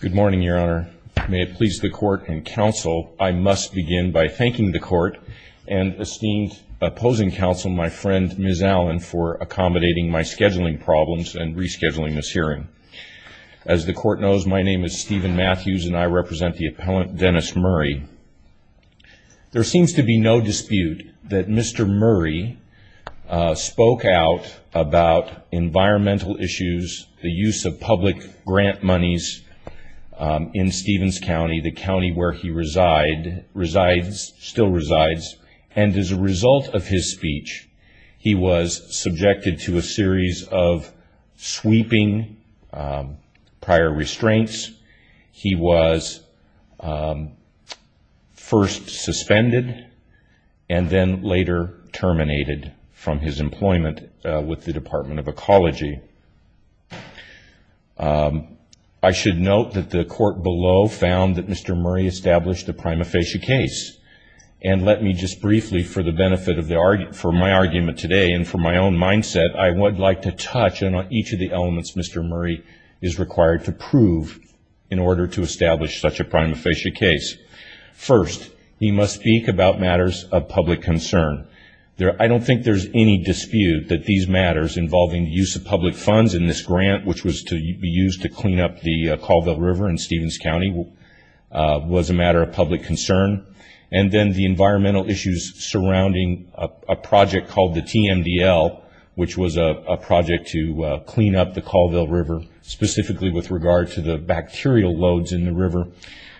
Good morning, Your Honor. May it please the court and counsel, I must begin by thanking the court and esteemed opposing counsel, my friend, Ms. Allen, for accommodating my scheduling problems and rescheduling this hearing. As the court knows, my name is Stephen Matthews and I represent the appellant, Dennis Murray. There seems to be no dispute that Mr. Murray spoke out about environmental issues, the use of public grant monies in Stevens County, the county where he resides, still resides, and as a result of his speech, he was subjected to a series of sweeping prior restraints. He was first suspended and then later terminated. From his employment with the Department of Ecology, I should note that the court below found that Mr. Murray established a prima facie case. And let me just briefly, for the benefit of my argument today and for my own mindset, I would like to touch on each of the elements Mr. Murray is required to prove in order to establish such a prima facie case. First, he must speak about matters of public concern. I don't think there's any dispute that these matters involving the use of public funds in this grant, which was to be used to clean up the Colville River in Stevens County, was a matter of public concern. And then the environmental issues surrounding a project called the TMDL, which was a project to clean up the Colville River, specifically with regard to the bacterial loads in the river.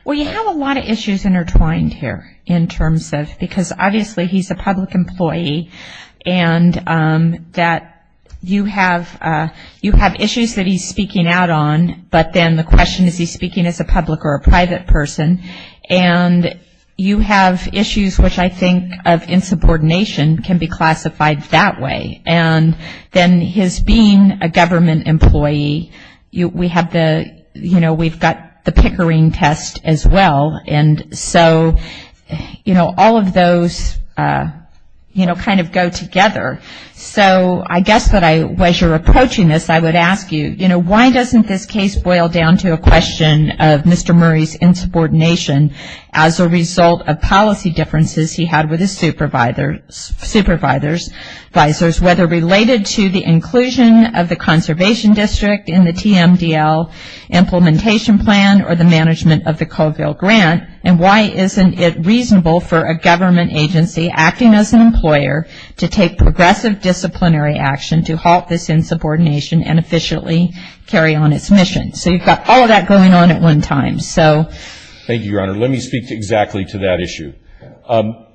There are some issues intertwined here in terms of, because obviously he's a public employee, and that you have issues that he's speaking out on, but then the question is he's speaking as a public or a private person, and you have issues which I think of insubordination can be classified that way. And then his being a government employee, we have the, you know, we've got the Pickering test as well, and so, you know, all of those, you know, kind of go together. So I guess that I, as you're approaching this, I would ask you, you know, why doesn't this case boil down to a question of Mr. Murray's insubordination as a result of policy differences he had with his supervisors, supervisors, advisors, whether related to the inclusion of the conservation district in the TMDL implementation plan or the management of the Colville grant, and why isn't it reasonable for a government agency acting as an employer to take progressive disciplinary action to halt this insubordination and efficiently carry on its mission? So you've got all of that going on at one time, so. Thank you, Your Honor. Let me speak exactly to that issue.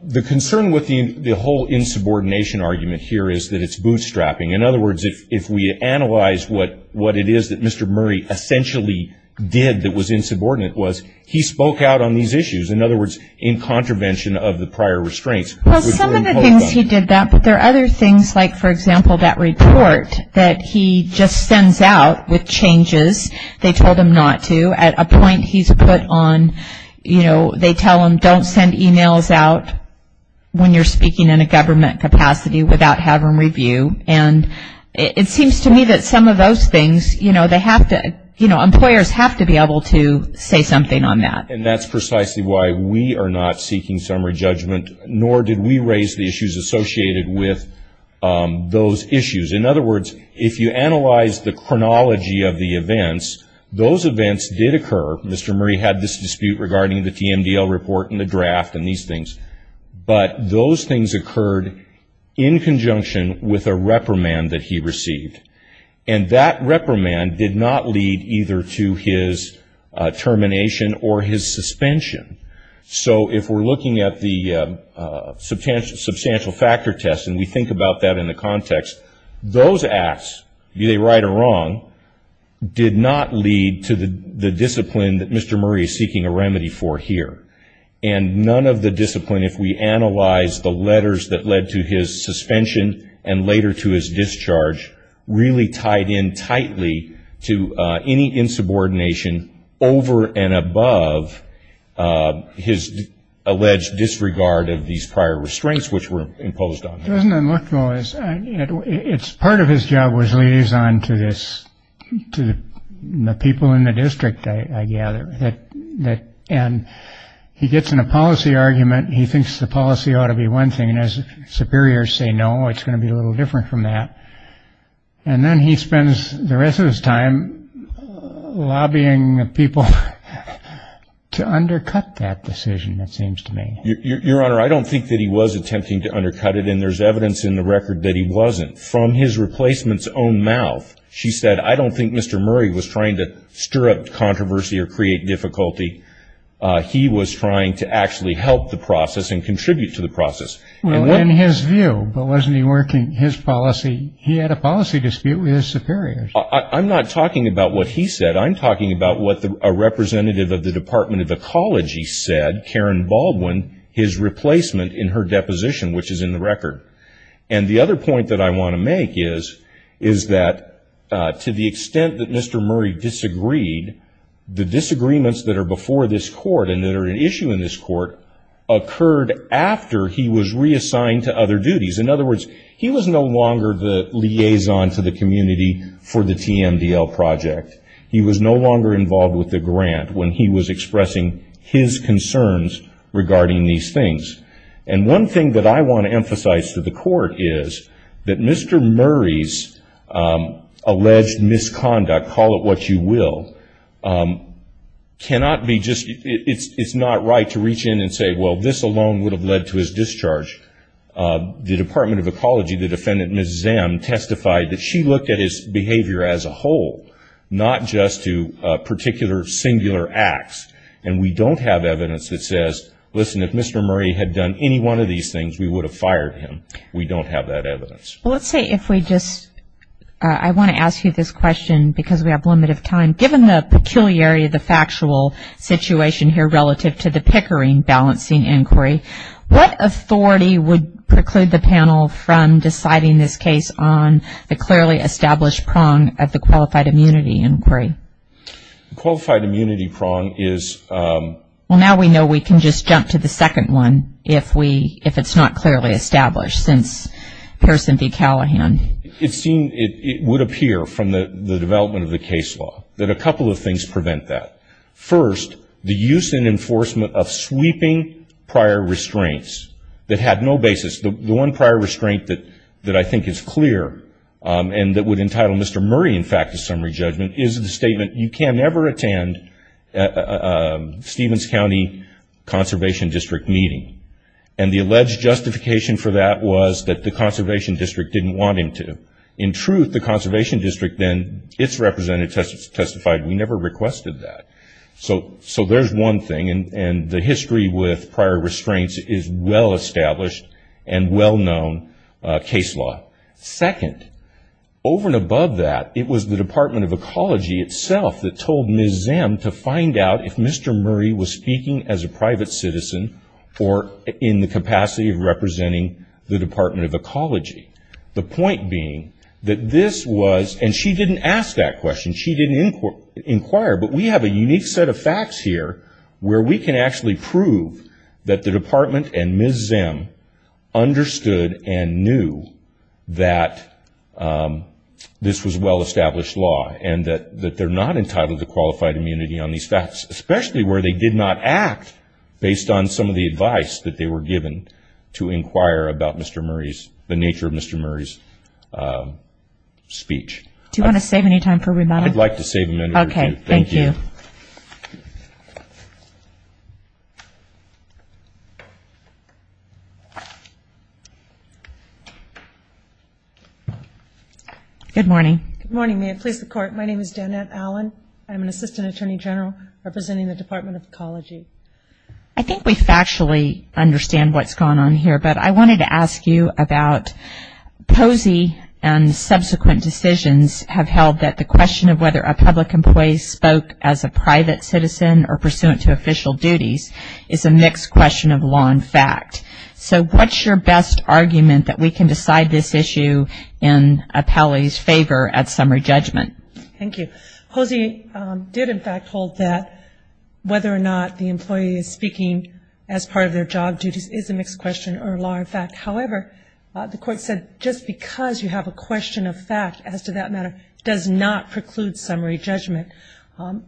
The concern with the whole insubordination argument here is that it's bootstrapping. In other words, if we analyze what it is that Mr. Murray essentially did that was insubordinate was he spoke out on these issues. In other words, in contravention of the prior restraints. Well, some of the things he did that, but there are other things like, for example, that report that he just sends out with changes. They told him not to. At a point he's put on, you know, they tell him don't send emails out when you're speaking in a government capacity without having review. And it seems to me that some of those things, you know, they have to, you know, employers have to be able to say something on that. And that's precisely why we are not seeking summary judgment, nor did we raise the issues associated with those issues. In other words, if you analyze the chronology of the events, those events did occur. Mr. Murray had this dispute regarding the TMDL report and the draft and these things. But those things occurred in conjunction with a reprimand that he received. And that reprimand did not lead either to his termination or his suspension. So if we're looking at the substantial factor test and we think about that in the context, those acts, be they right or wrong, did not lead to the discipline that Mr. Murray is seeking a remedy for here. And none of the discipline, if we analyze the letters that led to his suspension and later to his discharge, really tied in tightly to any insubordination over and above his alleged disregard of these prior restraints which were imposed on him. It's part of his job was liaison to the people in the district, I gather. And he gets in a policy argument, he thinks the policy ought to be one thing, and his superiors say no, it's going to be a little different from that. And then he spends the rest of his time lobbying people to undercut that decision, it seems to me. Your Honor, I don't think that he was attempting to undercut it, and there's evidence in the record that he wasn't. From his replacement's own mouth, she said, I don't think Mr. Murray was trying to stir up controversy or create difficulty. He was trying to actually help the process and contribute to the process. Well, in his view, but wasn't he working his policy, he had a policy dispute with his superiors. I'm not talking about what he said. I'm talking about what a representative of the Department of Ecology said, Karen Baldwin, his replacement in her deposition, which is in the record. And the other point that I want to make is that to the extent that Mr. Murray disagreed, the disagreements that are before this Court and that are an issue in this Court occurred after he was reassigned to other duties. In other words, he was no longer the liaison to the community for the TMDL project. He was no longer involved with the grant when he was expressing his concerns regarding these things. And one thing that I want to emphasize to the Court is that Mr. Murray's alleged misconduct, call it what you will, cannot be just, it's not right to reach in and say, well, this alone would have led to his discharge. The Department of Ecology, the defendant, Ms. Zam, testified that she looked at his behavior as a whole, not just to a particular singular acts. And we don't have evidence that says, listen, if Mr. Murray had done any one of these things, we would have fired him. We don't have that evidence. Well, let's say if we just, I want to ask you this question because we have limited time. Given the peculiarity of the factual situation here relative to the Pickering balancing inquiry, what authority would preclude the panel from deciding this case on the clearly established prong of the qualified immunity inquiry? Qualified immunity prong is... Well, now we know we can just jump to the second one if it's not clearly established since Harrison v. Callahan. It would appear from the development of the case law that a couple of things prevent that. First, the use and enforcement of sweeping prior restraints that had no basis. The one prior restraint that I think is clear and that would entitle Mr. Murray, in fact, to a statement, you can never attend a Stevens County Conservation District meeting. And the alleged justification for that was that the Conservation District didn't want him to. In truth, the Conservation District then, it's represented, testified, we never requested that. So there's one thing, and the history with prior restraints is well-established and well-known case law. Second, over and above that, it was the Department of Ecology itself that told Ms. Zim to find out if Mr. Murray was speaking as a private citizen or in the capacity of representing the Department of Ecology. The point being that this was, and she didn't ask that question, she didn't inquire, but we have a unique set of facts here where we can actually prove that the Department and Ms. Zim understood and knew that this was well-established law and that they're not entitled to qualified immunity on these facts, especially where they did not act based on some of the advice that they were given to inquire about Mr. Murray's, the nature of Mr. Murray's speech. Do you want to save any time for rebuttal? I'd like to save a minute. Okay. Thank you. Thank you. Good morning. Good morning. May it please the Court, my name is Danette Allen. I'm an Assistant Attorney General representing the Department of Ecology. I think we factually understand what's going on here, but I wanted to ask you about Posey and subsequent decisions have held that the question of whether a public employee spoke as a private citizen or pursuant to official duties is a mixed question of law and fact. So what's your best argument that we can decide this issue in a palliative's favor at summary judgment? Thank you. Posey did in fact hold that whether or not the employee is speaking as part of their job duties is a mixed question or law and fact. However, the Court said just because you have a question of fact, as to that matter, does not preclude summary judgment.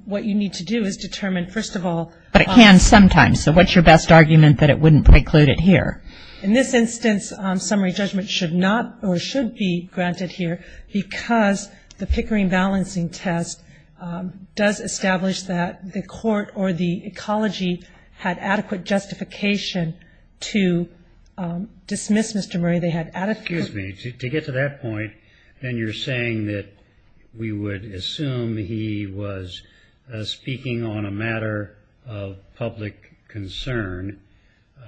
What you need to do is determine, first of all But it can sometimes. So what's your best argument that it wouldn't preclude it here? In this instance, summary judgment should not or should be granted here because the Pickering balancing test does establish that the Court or the ecology had adequate justification to dismiss Mr. Murray. They had adequate Excuse me. To get to that point, then you're saying that we would assume he was speaking on a matter of public concern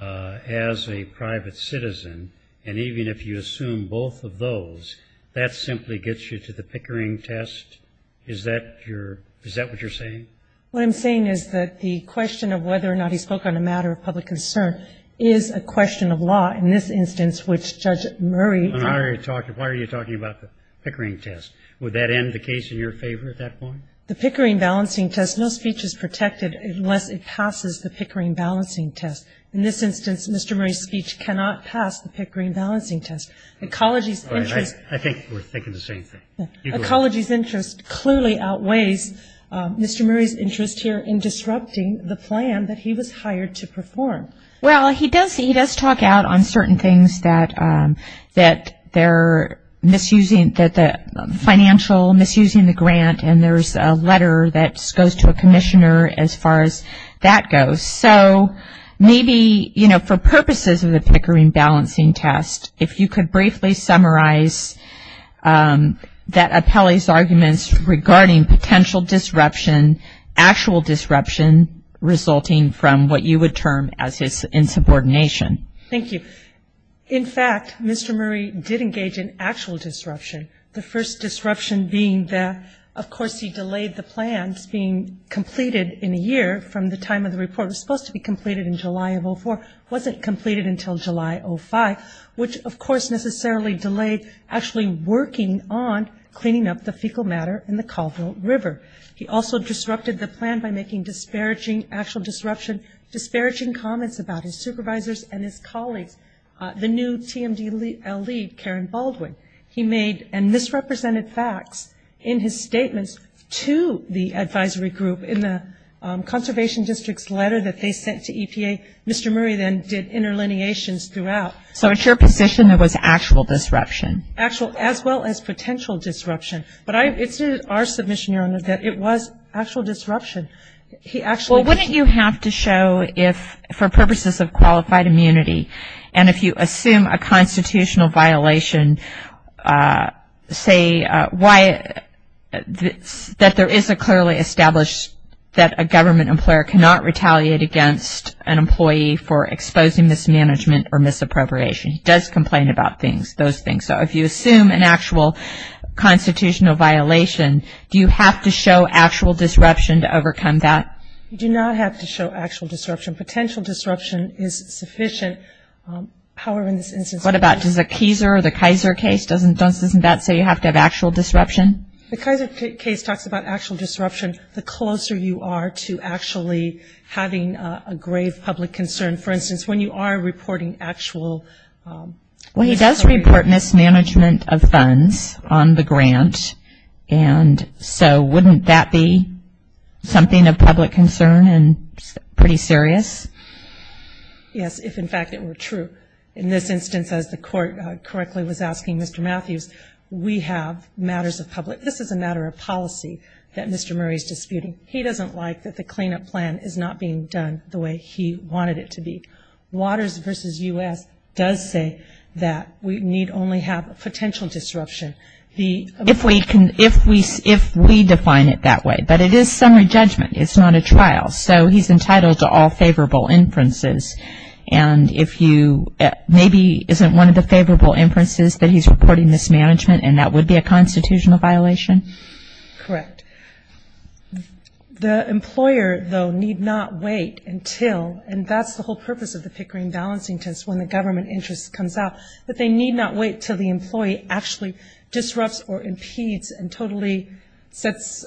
as a private citizen, and even if you assume both of those, that simply gets you to the Pickering test? Is that what you're saying? What I'm saying is that the question of whether or not he spoke on a matter of public concern is a question of law in this instance, which Judge Murray Why are you talking about the Pickering test? Would that end the case in your favor at that point? The Pickering balancing test, no speech is protected unless it passes the Pickering balancing test. In this instance, Mr. Murray's speech cannot pass the Pickering balancing test. Ecology's interest I think we're thinking the same thing. Ecology's interest clearly outweighs Mr. Murray's interest here in disrupting the plan that he was hired to perform. Well, he does talk out on certain things that they're misusing, that the financial misusing the grant, and there's a letter that goes to a commissioner as far as that goes. So maybe for purposes of the Pickering balancing test, if you could briefly summarize that Mr. Murray's arguments regarding potential disruption, actual disruption, resulting from what you would term as his insubordination. Thank you. In fact, Mr. Murray did engage in actual disruption. The first disruption being that, of course, he delayed the plans being completed in a year from the time of the report was supposed to be completed in July of 04, wasn't completed until July of 05, which of course necessarily delayed actually working on cleaning up the fecal matter in the Colville River. He also disrupted the plan by making disparaging, actual disruption, disparaging comments about his supervisors and his colleagues. The new TMD lead, Karen Baldwin, he made misrepresented facts in his statements to the advisory group in the conservation district's letter that they sent to EPA. Mr. Murray then did interlineations throughout. So it's your position that it was actual disruption? Actual as well as potential disruption. But it's our submission, Your Honor, that it was actual disruption. He actually Well, wouldn't you have to show if, for purposes of qualified immunity, and if you assume a constitutional violation, say why, that there is a clearly established that a government employer cannot retaliate against an employee for exposing mismanagement or misappropriation. He does complain about things, those things. So if you assume an actual constitutional violation, do you have to show actual disruption to overcome that? Do not have to show actual disruption. Potential disruption is sufficient. However, in this instance What about, does the Kaiser case, doesn't that say you have to have actual disruption? The Kaiser case talks about actual disruption. The closer you are to actually having a grave public concern, for instance, when you are reporting actual Well, he does report mismanagement of funds on the grant, and so wouldn't that be something of public concern and pretty serious? Yes, if in fact it were true. In this instance, as the court correctly was asking Mr. Matthews, we have matters of public, this is a matter of policy that Mr. Murray is disputing. He doesn't like that the cleanup plan is not being done the way he wanted it to be. Waters v. U.S. does say that we need only have potential disruption. If we define it that way, but it is summary judgment. It's not a trial. So he's entitled to all favorable inferences, and if you, maybe isn't one of the favorable inferences that he's reporting mismanagement, and that would be a constitutional violation? Correct. The employer, though, need not wait until, and that's the whole purpose of the Pickering balancing test when the government interest comes out, that they need not wait until the employee actually disrupts or impedes and totally sets,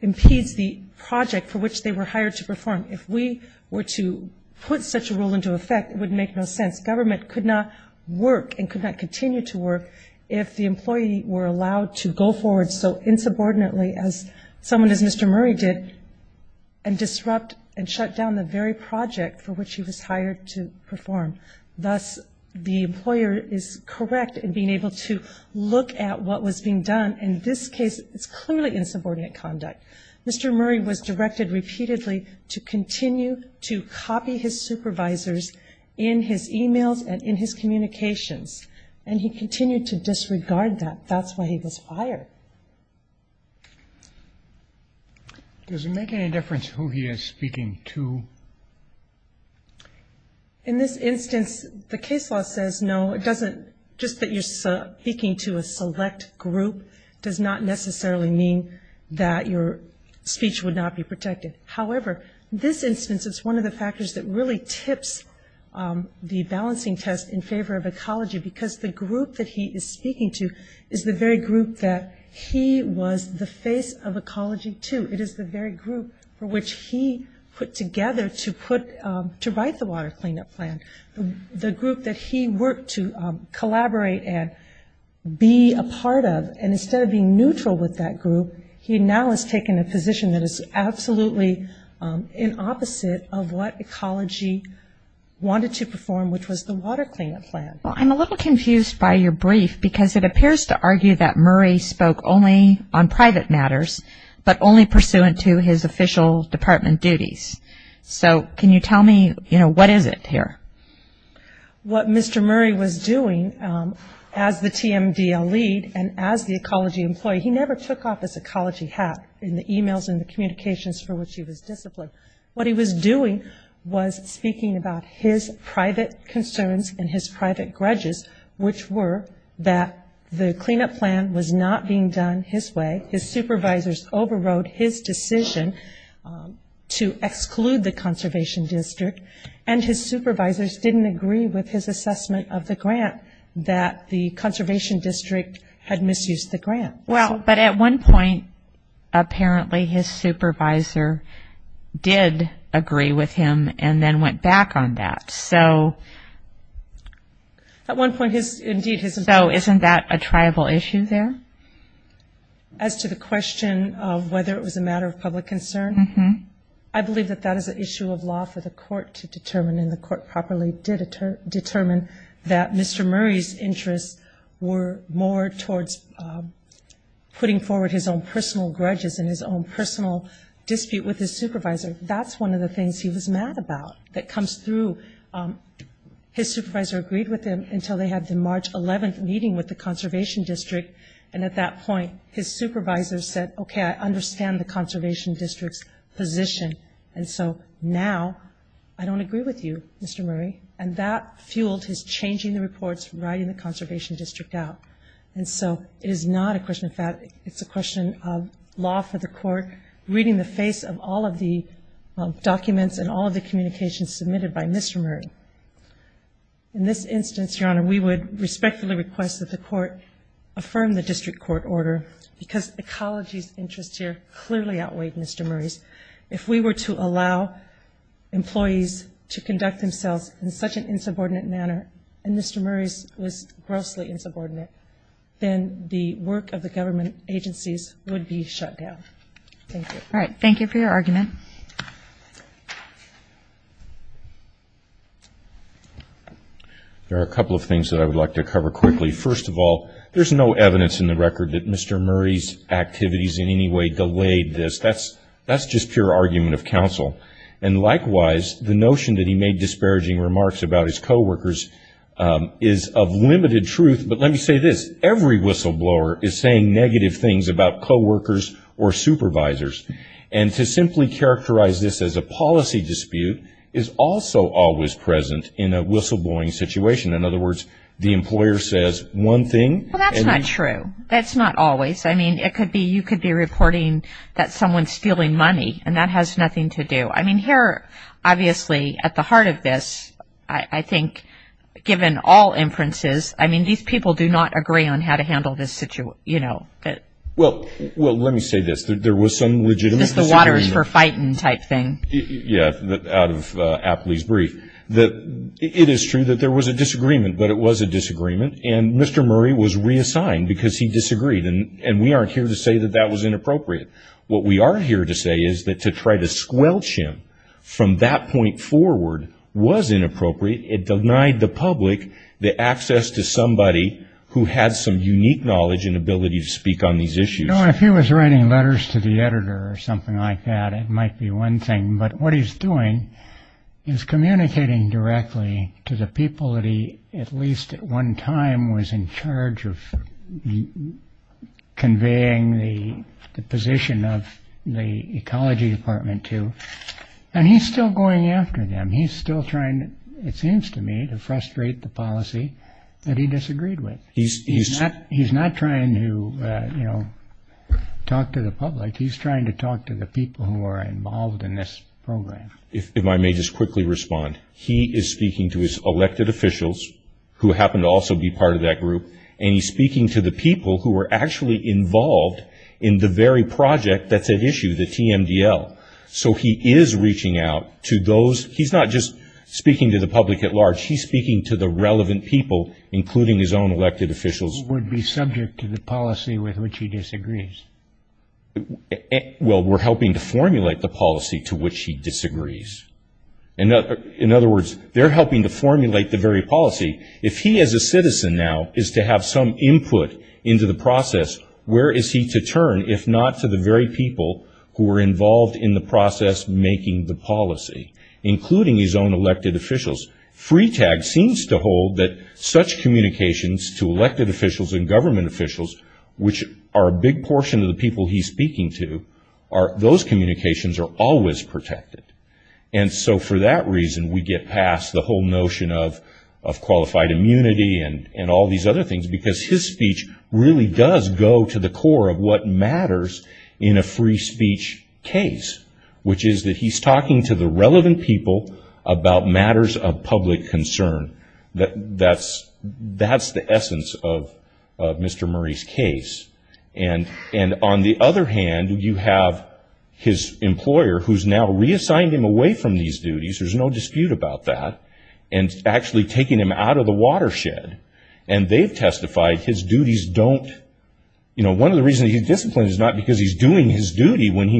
impedes the project for which they were hired to perform. If we were to put such a rule into effect, it would make no sense. Government could not work and could not continue to work if the employee were allowed to go forward so insubordinately as someone as Mr. Murray did, and disrupt and shut down the very project for which he was hired to perform. Thus, the employer is correct in being able to look at what was being done. In this case, it's clearly insubordinate conduct. Mr. Murray was directed repeatedly to continue to copy his supervisors in his emails and in his communications, and he continued to disregard that. That's why he was hired. Does it make any difference who he is speaking to? In this instance, the case law says no. It doesn't, just that you're speaking to a select group does not necessarily mean that your speech would not be protected. However, this instance is one of the factors that really tips the balancing test in favor of ecology because the group that he is speaking to is the very group that he was the face of ecology to. It is the very group for which he put together to write the water cleanup plan. The group that he worked to collaborate and be a part of, and instead of being neutral with that group, he now has taken a position that is absolutely in opposite of what ecology wanted to perform, which was the water cleanup plan. I'm a little confused by your brief because it appears to argue that Murray spoke only on private matters, but only pursuant to his official department duties. Can you tell me what is it here? What Mr. Murray was doing as the TMDL lead and as the ecology employee, he never took off his ecology hat in the emails and the communications for which he was disciplined. What he was doing was speaking about his private concerns and his private grudges, which were that the cleanup plan was not being done his way. His supervisors overrode his decision to exclude the conservation district, and his supervisors didn't agree with his assessment of the grant that the conservation district had misused the grant. At one point, apparently his supervisor did agree with him and then went back on that. Isn't that a tribal issue there? As to the question of whether it was a matter of public concern, I believe that that is an issue of law for the court to determine, and the court properly did determine that Mr. Murray's interests were more towards putting forward his own personal grudges and his own personal dispute with his supervisor. That's one of the things he was mad about that comes through. His supervisor agreed with him until they had the March 11th meeting with the conservation district, and at that point his supervisor said, okay, I understand the conservation district's position, and so now I don't agree with you, Mr. Murray, and that fueled his changing the reports, writing the conservation district out. And so it is not a question of fact, it's a question of law for the court reading the face of all of the documents and all of the communications submitted by Mr. Murray. In this instance, Your Honor, we would respectfully request that the court affirm the district court order because ecology's interest here clearly outweighed Mr. Murray's. If we were to allow employees to conduct themselves in such an insubordinate manner, and Mr. Murray's was grossly insubordinate, then the work of the government agencies would be shut down. Thank you. All right. Thank you for your argument. There are a couple of things that I would like to cover quickly. First of all, there's no evidence in the record that Mr. Murray's activities in any way delayed this. That's just pure argument of counsel. And likewise, the notion that he made disparaging remarks about his coworkers is of limited truth, but let me say this, every whistleblower is saying negative things about coworkers or supervisors. And to simply characterize this as a policy dispute is also always present in a whistleblowing situation. In other words, the employer says one thing. Well, that's not true. That's not always. I mean, it could be you could be reporting that someone's stealing money, and that has nothing to do. I mean, here, obviously, at the heart of this, I think, given all inferences, I mean, these people do not agree on how to Well, well, let me say this. There was some legitimate The water is for fighting type thing. Yeah, out of Apley's brief, that it is true that there was a disagreement, but it was a disagreement. And Mr. Murray was reassigned because he disagreed. And we aren't here to say that that was inappropriate. What we are here to say is that to try to squelch him from that point forward was inappropriate. It denied the public the access to somebody who has some If he was writing letters to the editor or something like that, it might be one thing. But what he's doing is communicating directly to the people that he at least at one time was in charge of conveying the position of the Ecology Department to. And he's still going after them. He's still trying, it seems to me, to frustrate the policy that he disagreed with. He's not he's not trying to, you know, talk to the public. He's trying to talk to the people who are involved in this program. If I may just quickly respond. He is speaking to his elected officials who happen to also be part of that group. And he's speaking to the people who were actually involved in the very project that's at issue, the TMDL. So he is reaching out to those. He's not just speaking to the public at large. He's speaking to the relevant people, including his own elected officials, would be subject to the policy with which he disagrees. Well, we're helping to formulate the policy to which he disagrees. And in other words, they're helping to formulate the very policy. If he as a citizen now is to have some input into the process, where is he to turn if not to the very people who were involved in the process making the policy, including his own elected officials? Freetag seems to hold that such communications to elected officials and government officials, which are a big portion of the people he's speaking to, those communications are always protected. And so for that reason, we get past the whole notion of qualified immunity and all these other things, because his speech really does go to the core of what matters in a free speech case, which is that he's talking to the relevant people about matters of public concern. That's the essence of Mr. Murray's case. And on the other hand, you have his employer, who's now reassigned him away from these duties, there's no dispute about that, and actually taking him out of the watershed. And they've testified his duties don't, you know, one of the reasons he's disciplined is not because he's doing his duty when he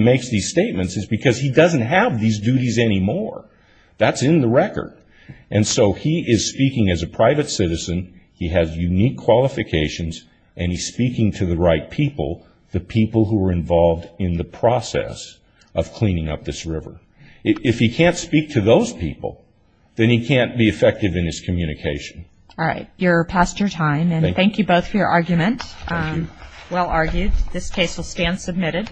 And so he is speaking as a private citizen, he has unique qualifications, and he's speaking to the right people, the people who were involved in the process of cleaning up this river. If he can't speak to those people, then he can't be effective in his communication. All right, you're past your time, and thank you both for your argument. Well argued. This case will stand submitted.